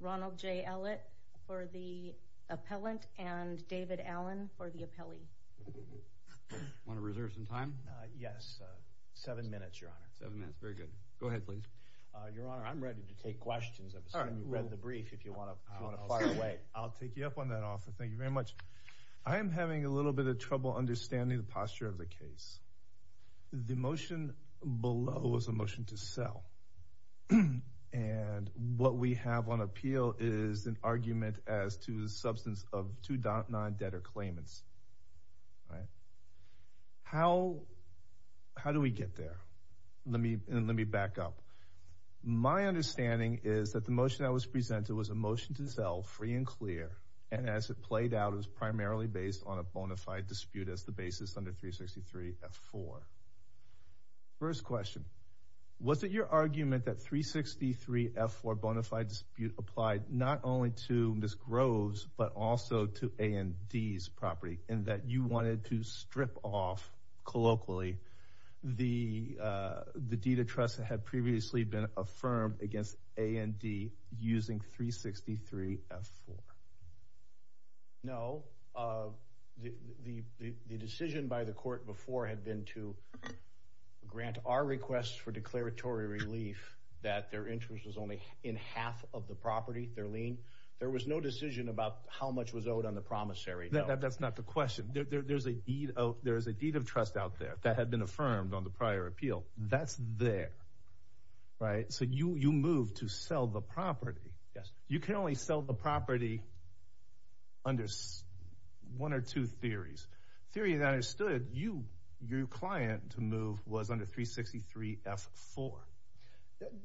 Ronald J. Ellett for the appellant, and David Allen for the appellee. Want to reserve some time? Yes, seven minutes, Your Honor. Seven minutes, very good. Go ahead, please. Your Honor, I'm ready to take questions. I've assumed you've read the brief, if you want to fire away. I'll take you up on that offer. Thank you very much. I am having a little bit of trouble understanding the posture of the case. The motion below is a motion to sell. And what we have on appeal is an argument as to the substance of two non-debtor claimants. All right. How how do we get there? Let me let me back up. My understanding is that the motion that was presented was a motion to sell free and clear. And as it played out, it was primarily based on a bona fide dispute as the basis under 363 F4. First question, was it your argument that 363 F4 bona fide dispute applied not only to Ms. No. The decision by the court before had been to grant our request for declaratory relief that their interest was only in half of the property, their lien. There was no decision about how much was owed on the promissory. That's not the question. There's a deed. Oh, there is a deed of trust out there that had been affirmed on the prior appeal. That's there. Right. So you you move to sell the property. Yes. You can only sell the property. Under one or two theories, theory that I understood you, your client to move was under 363 F4.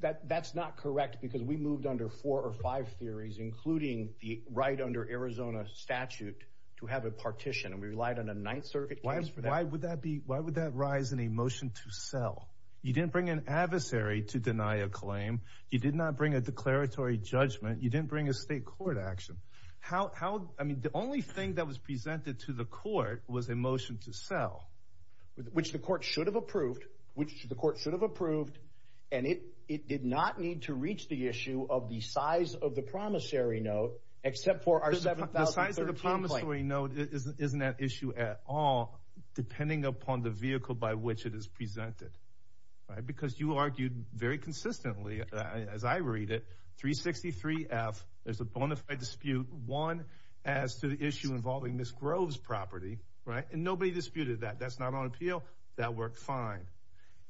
That that's not correct, because we moved under four or five theories, including the right under Arizona statute to have a partition. And we relied on a Ninth Circuit. Why would that be? Why would that rise in a motion to sell? You didn't bring an adversary to deny a claim. You did not bring a declaratory judgment. You didn't bring a state court action. How I mean, the only thing that was presented to the court was a motion to sell, which the court should have approved, which the court should have approved. And it it did not need to reach the issue of the size of the promissory note, except for our seven thousand. The size of the promissory note isn't that issue at all, depending upon the vehicle by which it is presented. Right. Because you argued very consistently, as I read it, 363 F. There's a bona fide dispute. One as to the issue involving Miss Grove's property. Right. And nobody disputed that. That's not on appeal. That worked fine.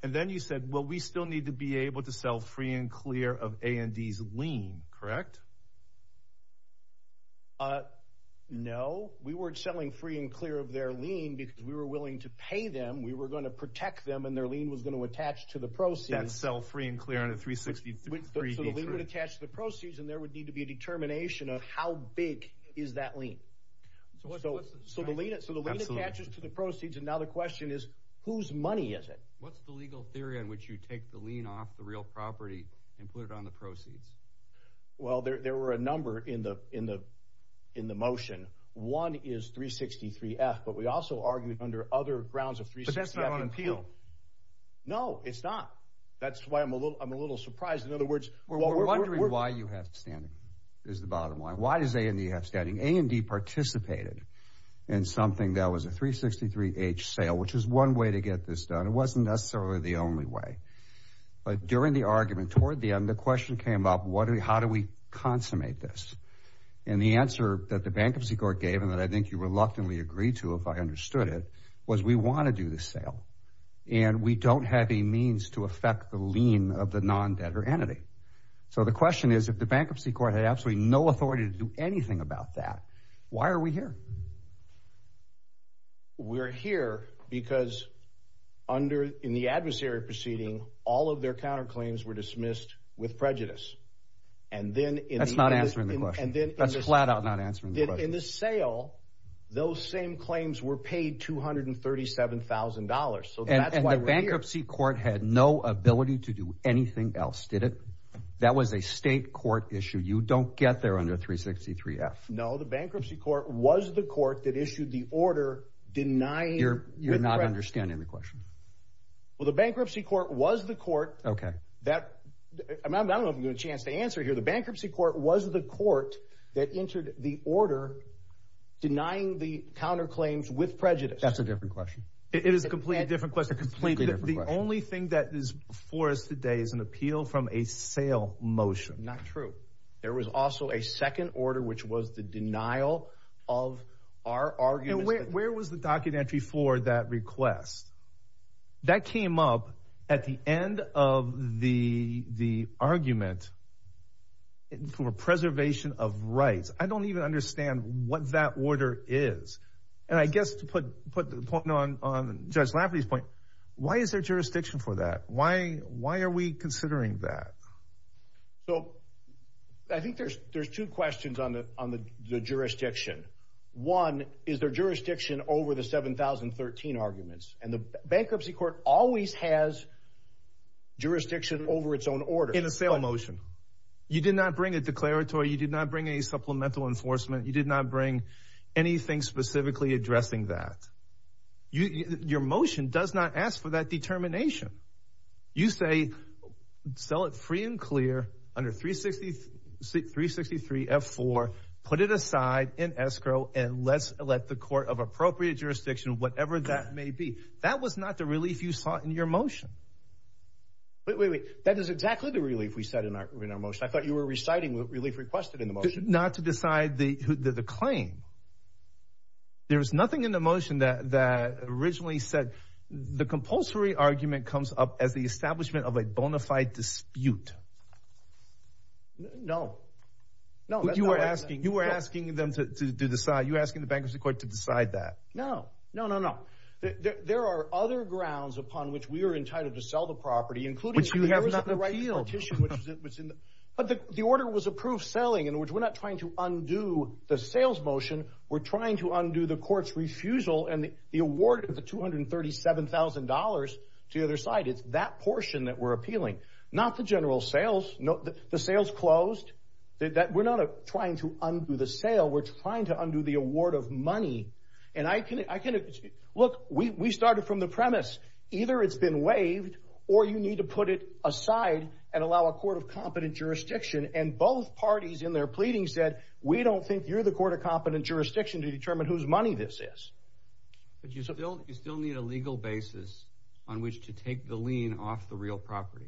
And then you said, well, we still need to be able to sell free and clear of Andy's lien. Correct. No, we weren't selling free and clear of their lien because we were willing to pay them. We were going to protect them and their lien was going to attach to the proceeds. Sell free and clear on a three sixty three. We would attach the proceeds and there would need to be a determination of how big is that lien. So the lien attaches to the proceeds. And now the question is, whose money is it? What's the legal theory in which you take the lien off the real property and put it on the proceeds? Well, there were a number in the in the in the motion. One is three sixty three F. But we also argued under other grounds of three. That's not on appeal. No, it's not. That's why I'm a little I'm a little surprised. In other words, we're wondering why you have standing is the bottom line. Why does they have standing? Andy participated in something that was a three sixty three H sale, which is one way to get this done. It wasn't necessarily the only way. But during the argument toward the end, the question came up. What do we how do we consummate this? And the answer that the bankruptcy court gave and that I think you reluctantly agree to, if I understood it, was we want to do the sale. And we don't have a means to affect the lien of the non-debtor entity. So the question is, if the bankruptcy court had absolutely no authority to do anything about that, why are we here? We're here because under in the adversary proceeding, all of their counterclaims were dismissed with prejudice. And then it's not answering the question. And then that's flat out not answering the sale. Those same claims were paid two hundred and thirty seven thousand dollars. And the bankruptcy court had no ability to do anything else, did it? That was a state court issue. You don't get there under three sixty three F. No, the bankruptcy court was the court that issued the order denying. You're you're not understanding the question. Well, the bankruptcy court was the court. OK, that I don't have a chance to answer here. The bankruptcy court was the court that entered the order denying the counterclaims with prejudice. That's a different question. It is a completely different question. The only thing that is for us today is an appeal from a sale motion. Not true. There was also a second order, which was the denial of our argument. Where was the documentary for that request? That came up at the end of the the argument for preservation of rights. I don't even understand what that order is. And I guess to put put the point on on Judge Lafferty's point, why is there jurisdiction for that? Why why are we considering that? So I think there's there's two questions on the on the jurisdiction. One, is there jurisdiction over the seven thousand thirteen arguments? And the bankruptcy court always has jurisdiction over its own order in a sale motion. You did not bring a declaratory. You did not bring a supplemental enforcement. You did not bring anything specifically addressing that. Your motion does not ask for that determination. You say sell it free and clear under three sixty three sixty three F4. Put it aside in escrow and let's let the court of appropriate jurisdiction, whatever that may be. That was not the relief you saw in your motion. That is exactly the relief we said in our in our motion. I thought you were reciting relief requested in the motion not to decide the claim. There is nothing in the motion that that originally said the compulsory argument comes up as the establishment of a bona fide dispute. No, no. You were asking you were asking them to decide. You're asking the bankruptcy court to decide that. No, no, no, no. There are other grounds upon which we are entitled to sell the property, including which you have not the right. But the order was approved selling in which we're not trying to undo the sales motion. We're trying to undo the court's refusal and the award of the two hundred and thirty seven thousand dollars to the other side. It's that portion that we're appealing, not the general sales. The sales closed that we're not trying to undo the sale. We're trying to undo the award of money. And I can I can look, we started from the premise either it's been waived or you need to put it aside and allow a court of competent jurisdiction. And both parties in their pleading said, we don't think you're the court of competent jurisdiction to determine whose money this is. But you still you still need a legal basis on which to take the lien off the real property.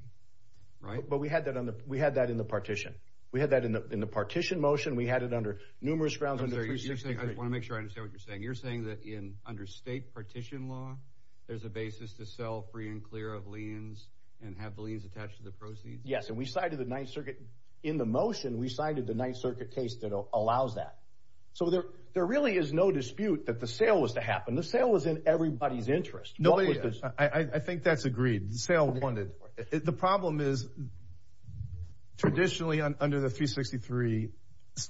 Right. But we had that on the we had that in the partition. We had that in the partition motion. We had it under numerous grounds. I want to make sure I understand what you're saying. You're saying that in under state partition law, there's a basis to sell free and clear of liens and have liens attached to the proceeds. Yes. And we cited the Ninth Circuit in the motion. We cited the Ninth Circuit case that allows that. So there there really is no dispute that the sale was to happen. The sale was in everybody's interest. Nobody. I think that's agreed. The problem is traditionally under the 363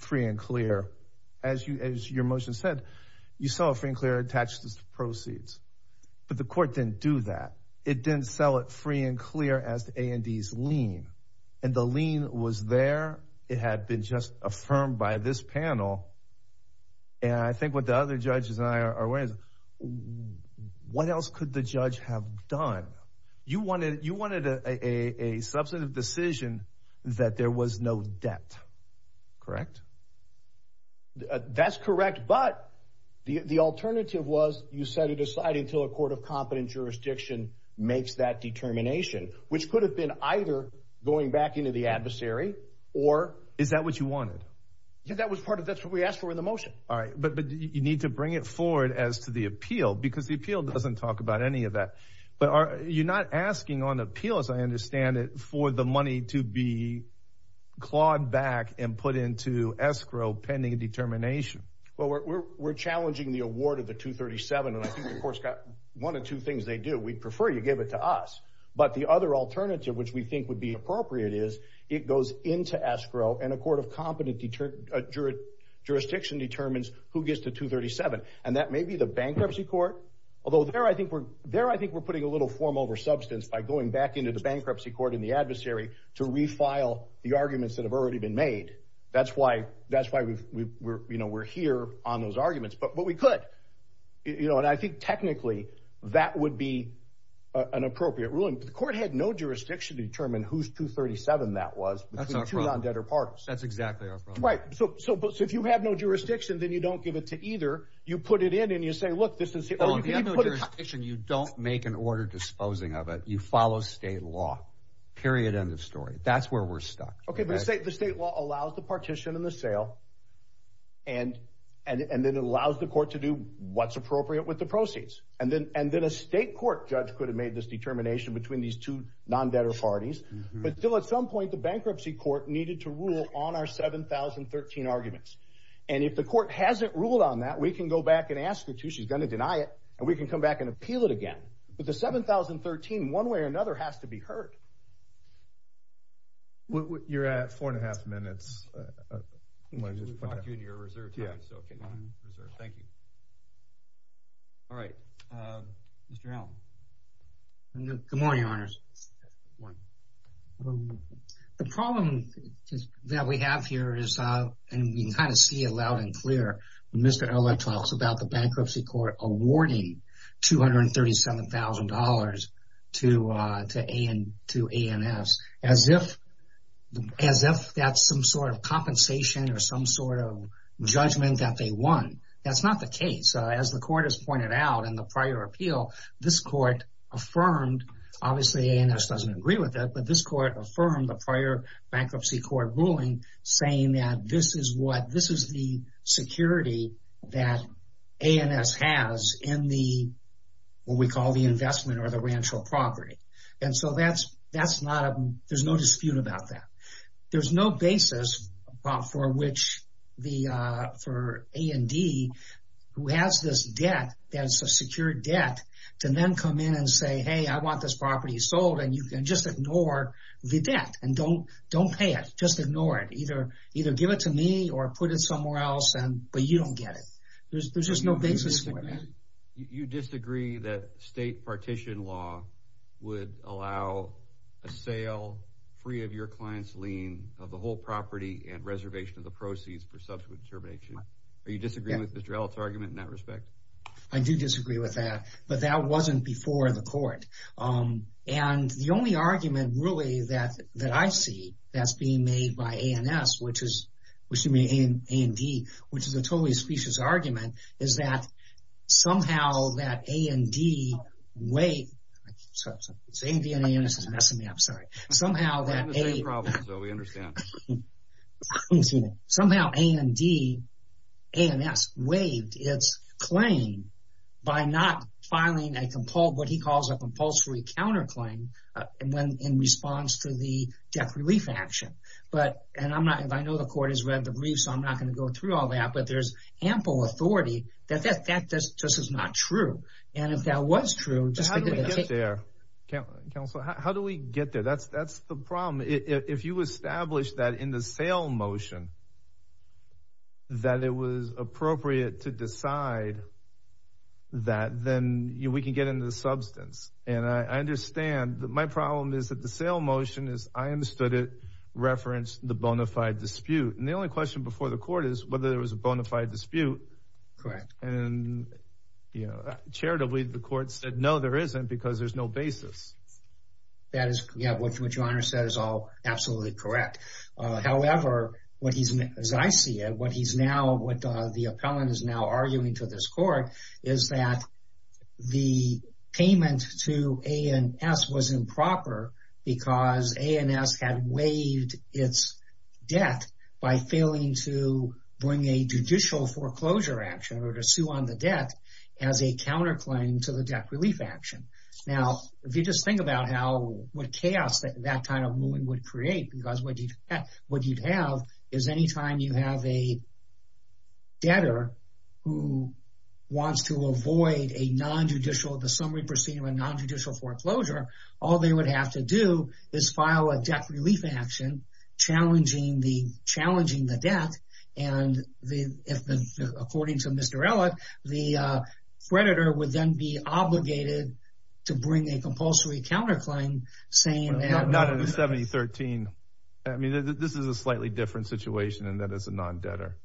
free and clear. As you as your motion said, you saw a free and clear attached to the proceeds. But the court didn't do that. It didn't sell it free and clear as the A&E's lien. And the lien was there. It had been just affirmed by this panel. And I think what the other judges are aware is what else could the judge have done? You wanted you wanted a substantive decision that there was no debt. Correct. That's correct. But the alternative was you said to decide until a court of competent jurisdiction makes that determination, which could have been either going back into the adversary. Or is that what you wanted? That was part of that's what we asked for in the motion. All right. But you need to bring it forward as to the appeal because the appeal doesn't talk about any of that. But you're not asking on appeal, as I understand it, for the money to be clawed back and put into escrow pending a determination. Well, we're challenging the award of the 237. And I think the court's got one of two things they do. We'd prefer you give it to us. But the other alternative, which we think would be appropriate, is it goes into escrow and a court of competent jurisdiction determines who gets to 237. And that may be the bankruptcy court. Although there I think we're there. I think we're putting a little form over substance by going back into the bankruptcy court in the adversary to refile the arguments that have already been made. That's why that's why we're here on those arguments. But what we could you know, and I think technically that would be an appropriate ruling. The court had no jurisdiction to determine who's 237. That was two non debtor parties. That's exactly right. So if you have no jurisdiction, then you don't give it to either. You put it in and you say, look, this is the other jurisdiction. You don't make an order disposing of it. You follow state law. Period. End of story. That's where we're stuck. OK, but let's say the state law allows the partition and the sale. And and then it allows the court to do what's appropriate with the proceeds. And then and then a state court judge could have made this determination between these two non debtor parties. But still, at some point, the bankruptcy court needed to rule on our seven thousand thirteen arguments. And if the court hasn't ruled on that, we can go back and ask the two. She's going to deny it and we can come back and appeal it again. But the seven thousand thirteen, one way or another, has to be heard. What you're at four and a half minutes. When you talk to your reserve. Yeah. Thank you. All right. Mr. Allen. Good morning, honors. One. The problem that we have here is and we kind of see it loud and clear. Mr. Allen talks about the bankruptcy court awarding two hundred and thirty seven thousand dollars to to and to A.M.S. as if as if that's some sort of compensation or some sort of judgment that they won. That's not the case. As the court has pointed out in the prior appeal, this court affirmed, obviously, and this doesn't agree with that. But this court affirmed the prior bankruptcy court ruling, saying that this is what this is, the security that A.M.S. has in the what we call the investment or the ranch or property. And so that's that's not a there's no dispute about that. There's no basis for which the for A.M.D. who has this debt, that's a secure debt to then come in and say, hey, I want this property sold. And you can just ignore the debt and don't don't pay it. Just ignore it. Either either give it to me or put it somewhere else. But you don't get it. There's just no basis for that. You disagree that state partition law would allow a sale free of your client's lien of the whole property and reservation of the proceeds for subsequent termination. Are you disagreeing with this relative argument in that respect? I do disagree with that. But that wasn't before the court. And the only argument really that that I see that's being made by A.M.S. which is which to me in A.M.D., which is a totally specious argument, is that somehow that A.M.D. way, so it's A.M.D. and A.M.S. is messing me up. Sorry. Somehow that a problem. So we understand somehow A.M.D. A.M.S. waived its claim by not filing a compul what he calls a compulsory counterclaim in response to the debt relief action. But and I'm not I know the court has read the brief, so I'm not going to go through all that. But there's ample authority that that that just is not true. And if that was true, just how do we get there? Counselor, how do we get there? That's that's the problem. If you establish that in the sale motion. That it was appropriate to decide. That then we can get into the substance. And I understand that my problem is that the sale motion is I understood it referenced the bona fide dispute. And the only question before the court is whether there was a bona fide dispute. Correct. And, you know, charitably, the court said, no, there isn't, because there's no basis. That is what you understand is all absolutely correct. However, what he's as I see it, what he's now what the appellant is now arguing to this court is that the payment to A.N.S. was improper because A.N.S. had waived its debt by failing to bring a judicial foreclosure action or to sue on the debt as a counterclaim to the debt relief action. Now, if you just think about how what chaos that that kind of movement would create, because what you would have is any time you have a debtor who wants to avoid a nonjudicial the summary proceeding with nonjudicial foreclosure. All they would have to do is file a debt relief action challenging the challenging the debt. And if according to Mr. Ellett, the creditor would then be obligated to bring a compulsory counterclaim saying that not in the 7013. I mean, this is a slightly different situation. And that is a non debtor.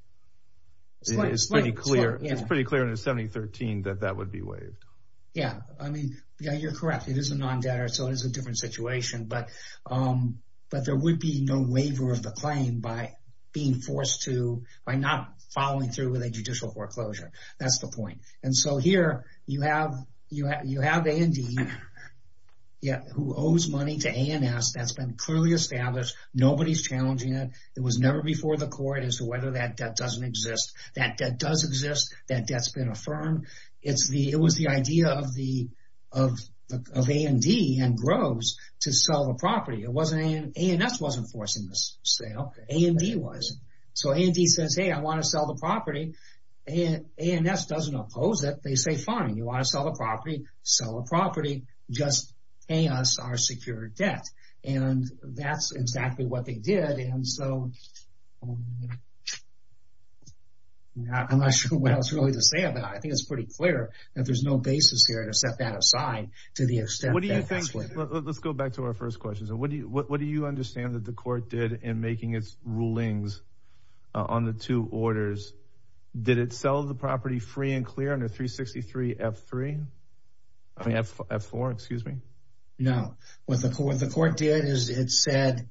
It's pretty clear. It's pretty clear in the 7013 that that would be waived. Yeah. I mean, yeah, you're correct. It is a non debtor. So it is a different situation. But but there would be no waiver of the claim by being forced to by not following through with a judicial foreclosure. That's the point. And so here you have you have you have A.N.D. Yeah. Who owes money to A.N.S. that's been clearly established. Nobody's challenging it. It was never before the court as to whether that debt doesn't exist. That debt does exist. That debt's been affirmed. It's the it was the idea of the of of A.N.D. and Groves to sell the property. It wasn't A.N.S. wasn't forcing this sale. A.N.D. was. So A.N.D. says, hey, I want to sell the property. And A.N.S. doesn't oppose it. They say, fine, you want to sell the property, sell the property, just pay us our secure debt. And that's exactly what they did. And so I'm not sure what else really to say about it. I think it's pretty clear that there's no basis here to set that aside to the extent. What do you think? Let's go back to our first question. So what do you what do you understand that the court did in making its rulings on the two orders? Did it sell the property free and clear under 363 F3? I mean, F4, excuse me? No. What the court the court did is it said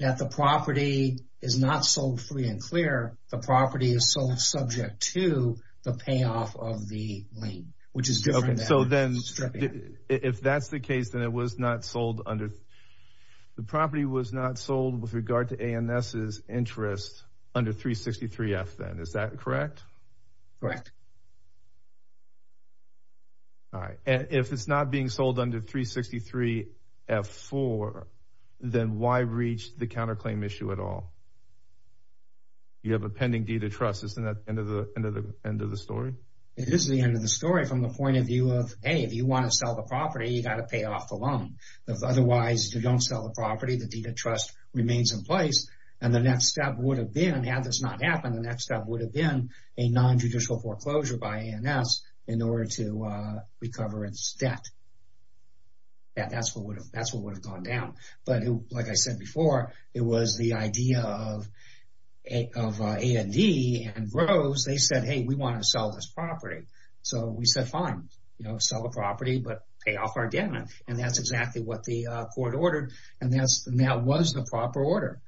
that the property is not sold free and clear. The property is sold subject to the payoff of the lien, which is different. So then if that's the case, then it was not sold under. The property was not sold with regard to A.N.S.'s interest under 363 F then, is that correct? Correct. All right. If it's not being sold under 363 F4, then why reach the counterclaim issue at all? You have a pending deed of trust. Isn't that the end of the end of the end of the story? It is the end of the story from the point of view of, hey, if you want to sell the property, you got to pay off the loan. Otherwise, you don't sell the property. The deed of trust remains in place. And the next step would have been, had this not happened, the next step would have been a nonjudicial foreclosure by A.N.S. in order to recover its debt. That's what would have that's what would have gone down. But like I said before, it was the idea of A.N.D. and Rose. They said, hey, we want to sell this property. So we said, fine, you know, sell the property, but pay off our debt. And that's exactly what the court ordered. And that was the proper order.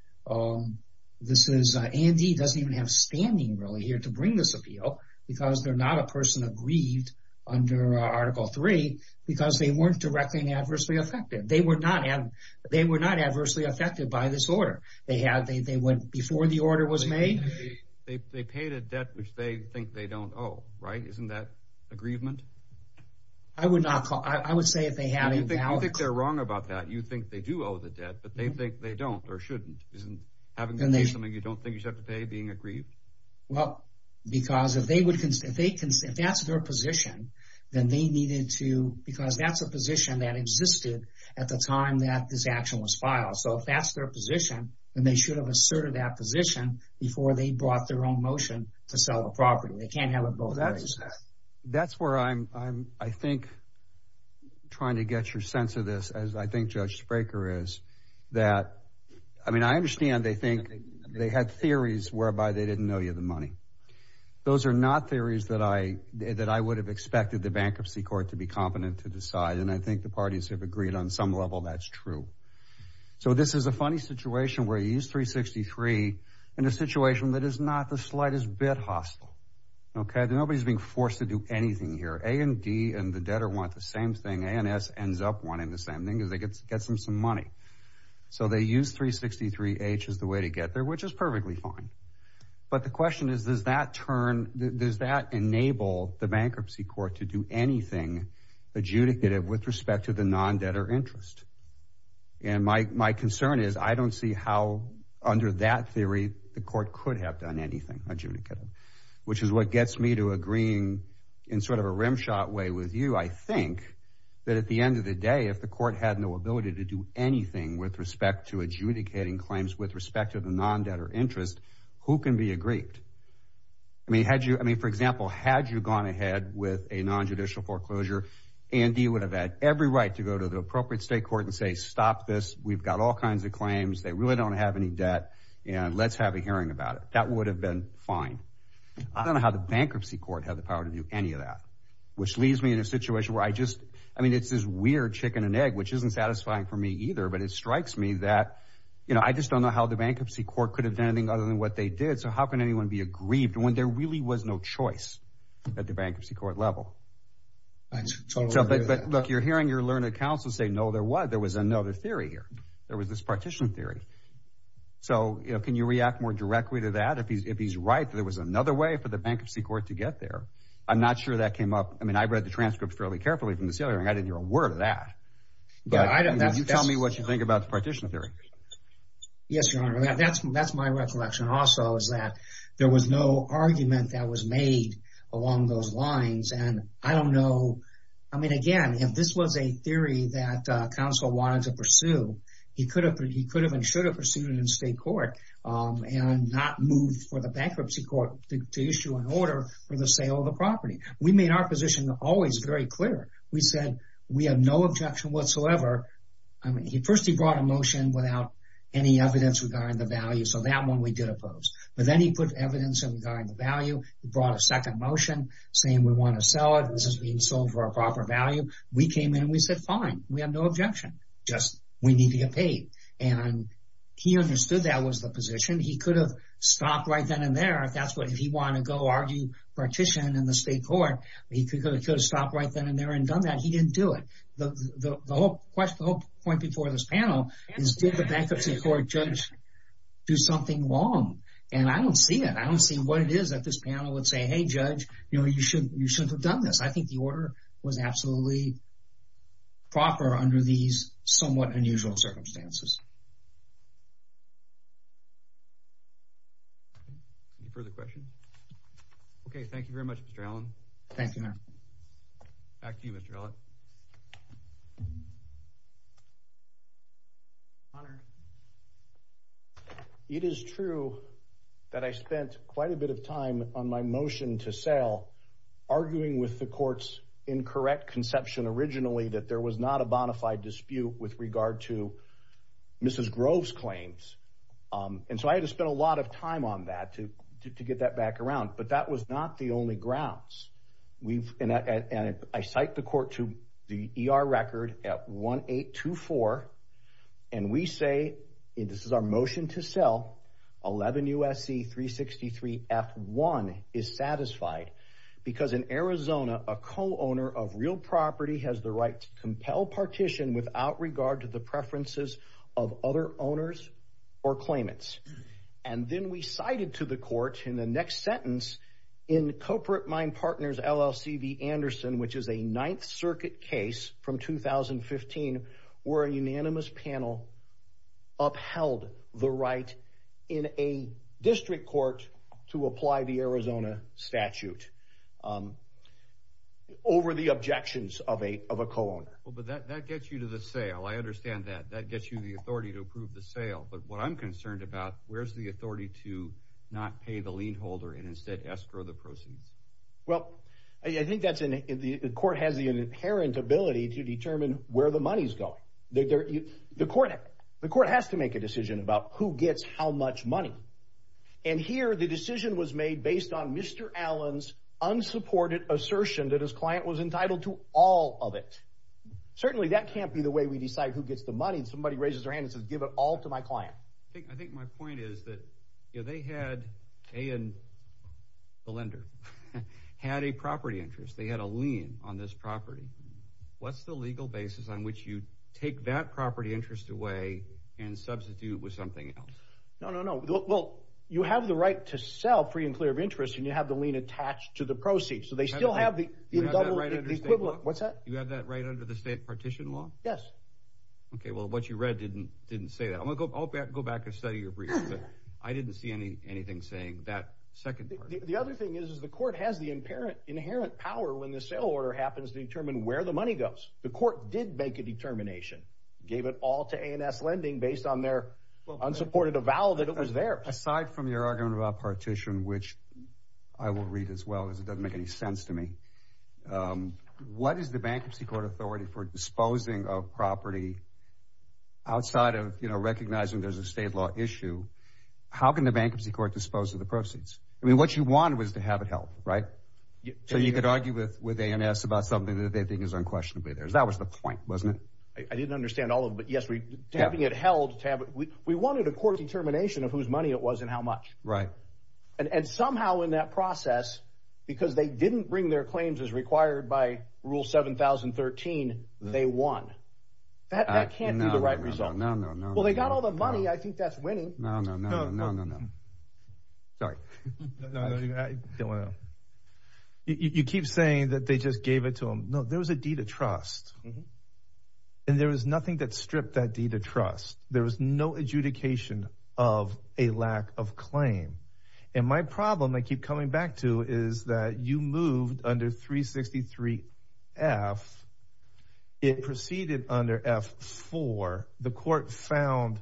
This is A.N.D. doesn't even have standing really here to bring this appeal because they're not a person aggrieved under Article 3 because they weren't directly and adversely affected. They were not they were not adversely affected by this order. They had they went before the order was made. They paid a debt which they think they don't owe. Right. Isn't that aggrievement? I would not call. I would say if they had anything, I think they're wrong about that. You think they do owe the debt, but they think they don't or shouldn't. Isn't having something you don't think you have to pay being aggrieved? Well, because if they would, if they can, if that's their position, then they needed to because that's a position that existed at the time that this action was filed. So if that's their position, then they should have asserted that position before they brought their own motion to sell the property. They can't have it. That's where I'm I'm I think trying to get your sense of this, as I think Judge Spraker is that I mean, I understand they think they had theories whereby they didn't know you the money. Those are not theories that I that I would have expected the bankruptcy court to be competent to decide. And I think the parties have agreed on some level. That's true. So this is a funny situation where you use 363 in a situation that is not the slightest bit hostile. OK, nobody's being forced to do anything here. A and D and the debtor want the same thing. And S ends up wanting the same thing as they get to get some some money. So they use 363 H as the way to get there, which is perfectly fine. But the question is, does that turn? Does that enable the bankruptcy court to do anything adjudicative with respect to the non-debtor interest? And my my concern is I don't see how under that theory the court could have done anything adjudicative, which is what gets me to agreeing in sort of a rimshot way with you. I think that at the end of the day, if the court had no ability to do anything with respect to adjudicating claims with respect to the non-debtor interest, who can be aggrieved? I mean, had you I mean, for example, had you gone ahead with a nonjudicial foreclosure and you would have had every right to go to the appropriate state court and say, stop this. We've got all kinds of claims. They really don't have any debt. And let's have a hearing about it. That would have been fine. I don't know how the bankruptcy court had the power to do any of that, which leaves me in a situation where I just I mean, it's this weird chicken and egg, which isn't satisfying for me either. But it strikes me that, you know, I just don't know how the bankruptcy court could have done anything other than what they did. So how can anyone be aggrieved when there really was no choice at the bankruptcy court level? But look, you're hearing your learned counsel say, no, there was there was another theory here. There was this partition theory. So can you react more directly to that? If he's right, there was another way for the bankruptcy court to get there. I'm not sure that came up. I mean, I read the transcripts fairly carefully from the ceiling. I didn't hear a word of that. But I don't know. You tell me what you think about the partition theory. Yes, your honor. That's that's my recollection also, is that there was no argument that was made along those lines. And I don't know. I mean, again, if this was a theory that counsel wanted to pursue, he could have he could have and should have pursued it in state court and not move for the bankruptcy court to issue an order for the sale of the property. We made our position always very clear. We said we have no objection whatsoever. I mean, he first he brought a motion without any evidence regarding the value. So that one we did oppose. But then he put evidence of value. He brought a second motion saying we want to sell it. This is being sold for a proper value. We came in and we said, fine, we have no objection. Just we need to get paid. And he understood that was the position he could have stopped right then and there. That's what if he wanted to go argue partition in the state court, he could have stopped right then and there and done that. He didn't do it. The whole question, the whole point before this panel is did the bankruptcy court judge do something wrong? And I don't see it. I don't see what it is that this panel would say, hey, judge, you know, you should you should have done this. I think the order was absolutely. Proper under these somewhat unusual circumstances. For the question. OK, thank you very much, Mr. Allen. Thank you. Thank you, Mr. Allen. It is true that I spent quite a bit of time on my motion to sell, arguing with the court's incorrect conception originally that there was not a bonafide dispute with regard to Mrs. I cite the court to the E.R. record at one eight two four. And we say this is our motion to sell 11 U.S.C. three sixty three at one is satisfied because in Arizona, a co-owner of real property has the right to compel partition without regard to the preferences of other owners or claimants. And then we cited to the court in the next sentence in corporate mine partners LLC Anderson, which is a Ninth Circuit case from 2015, where a unanimous panel upheld the right in a district court to apply the Arizona statute over the objections of a of a colon. Well, but that that gets you to the sale. I understand that that gets you the authority to approve the sale. But what I'm concerned about, where's the authority to not pay the lien holder and instead escrow the proceeds? Well, I think that's in the court has the inherent ability to determine where the money's going. The court, the court has to make a decision about who gets how much money. And here the decision was made based on Mr. Allen's unsupported assertion that his client was entitled to all of it. Certainly that can't be the way we decide who gets the money. Somebody raises their hand and says, give it all to my client. I think I think my point is that they had a and the lender had a property interest. They had a lien on this property. What's the legal basis on which you take that property interest away and substitute with something else? No, no, no. Well, you have the right to sell free and clear of interest and you have the lien attached to the proceeds. So they still have the equivalent. What's that? You have that right under the state partition law. Yes. OK, well, what you read didn't didn't say that. I'm going to go back and go back and study your brief. I didn't see any anything saying that. Second, the other thing is, is the court has the inherent inherent power when the sale order happens to determine where the money goes. The court did make a determination, gave it all to A&S lending based on their unsupported avowal that it was there. Aside from your argument about partition, which I will read as well as it doesn't make any sense to me, what is the bankruptcy court authority for disposing of property outside of recognizing there's a state law issue? How can the bankruptcy court dispose of the proceeds? I mean, what you wanted was to have it help. Right. So you could argue with with A&S about something that they think is unquestionably theirs. That was the point, wasn't it? I didn't understand all of it yesterday. Having it held tab, we wanted a court determination of whose money it was and how much. Right. And somehow in that process, because they didn't bring their claims as required by rule seven thousand thirteen, they won. That can't be the right result. No, no, no. Well, they got all the money. I think that's winning. No, no, no, no, no, no. Sorry. I don't want to. You keep saying that they just gave it to him. No, there was a deed of trust. And there was nothing that stripped that deed of trust. There was no adjudication of a lack of claim. And my problem I keep coming back to is that you moved under three sixty three F. It proceeded under F for the court found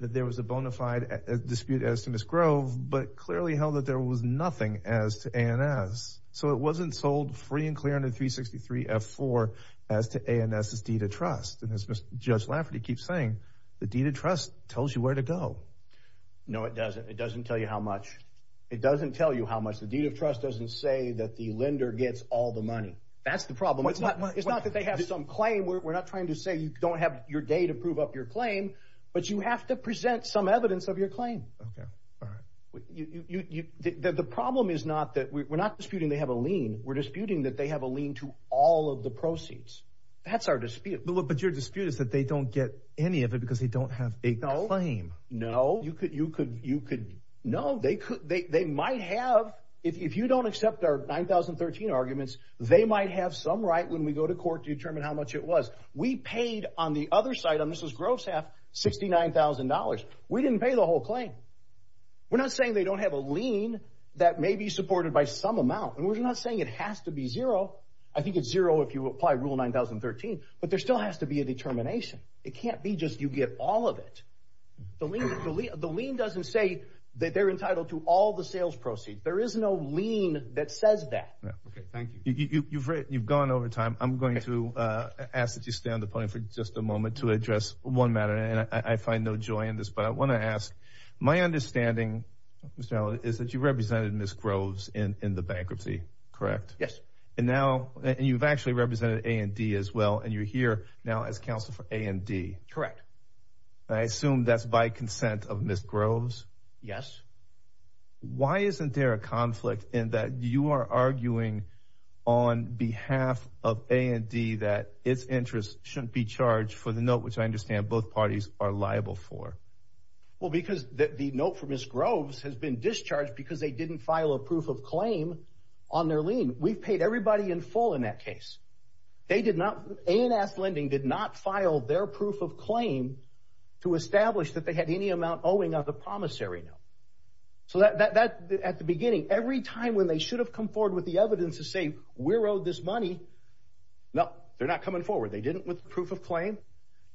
that there was a bona fide dispute as to Miss Grove, but clearly held that there was nothing as to A&S. So it wasn't sold free and clear under three sixty three F for as to A&S is deed of trust. And as Judge Lafferty keeps saying, the deed of trust tells you where to go. No, it doesn't. It doesn't tell you how much it doesn't tell you how much the deed of trust doesn't say that the lender gets all the money. That's the problem. It's not that they have some claim. We're not trying to say you don't have your day to prove up your claim, but you have to present some evidence of your claim. The problem is not that we're not disputing they have a lien. We're disputing that they have a lien to all of the proceeds. That's our dispute. But your dispute is that they don't get any of it because they don't have a claim. No, you could. You could. You could. No, they could. They might have if you don't accept our nine thousand thirteen arguments. They might have some right when we go to court to determine how much it was. We paid on the other side. And this is gross half sixty nine thousand dollars. We didn't pay the whole claim. We're not saying they don't have a lien that may be supported by some amount. And we're not saying it has to be zero. I think it's zero if you apply rule nine thousand thirteen. But there still has to be a determination. It can't be just you get all of it. The lien doesn't say that they're entitled to all the sales proceeds. There is no lien that says that. OK, thank you. You've you've gone over time. I'm going to ask that you stay on the point for just a moment to address one matter. And I find no joy in this. But I want to ask my understanding is that you represented Miss Groves in the bankruptcy. Correct. Yes. And now you've actually represented A&D as well. And you're here now as counsel for A&D. Correct. I assume that's by consent of Miss Groves. Yes. Why isn't there a conflict in that you are arguing on behalf of A&D that its interest shouldn't be charged for the note, which I understand both parties are liable for? Well, because the note from Miss Groves has been discharged because they didn't file a proof of claim on their lien. We've paid everybody in full in that case. They did not. A&S Lending did not file their proof of claim to establish that they had any amount owing of the promissory note. So that at the beginning, every time when they should have come forward with the evidence to say we're owed this money. No, they're not coming forward. They didn't with proof of claim.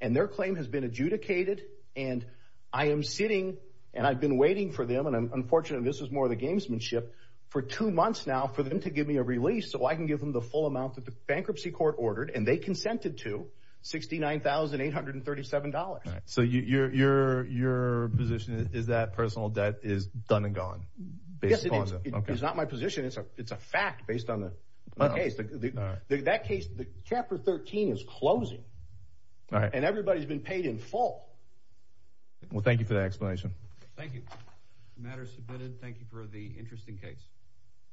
And their claim has been adjudicated. And I am sitting and I've been waiting for them. And unfortunately, this is more of the gamesmanship for two months now for them to give me a release so I can give them the full amount that the bankruptcy court ordered. And they consented to sixty nine thousand eight hundred and thirty seven dollars. All right. So your your your position is that personal debt is done and gone. This is not my position. It's a it's a fact based on the case. That case, the chapter 13 is closing. All right. And everybody's been paid in full. Well, thank you for the explanation. Thank you. Matters submitted. Thank you for the interesting case.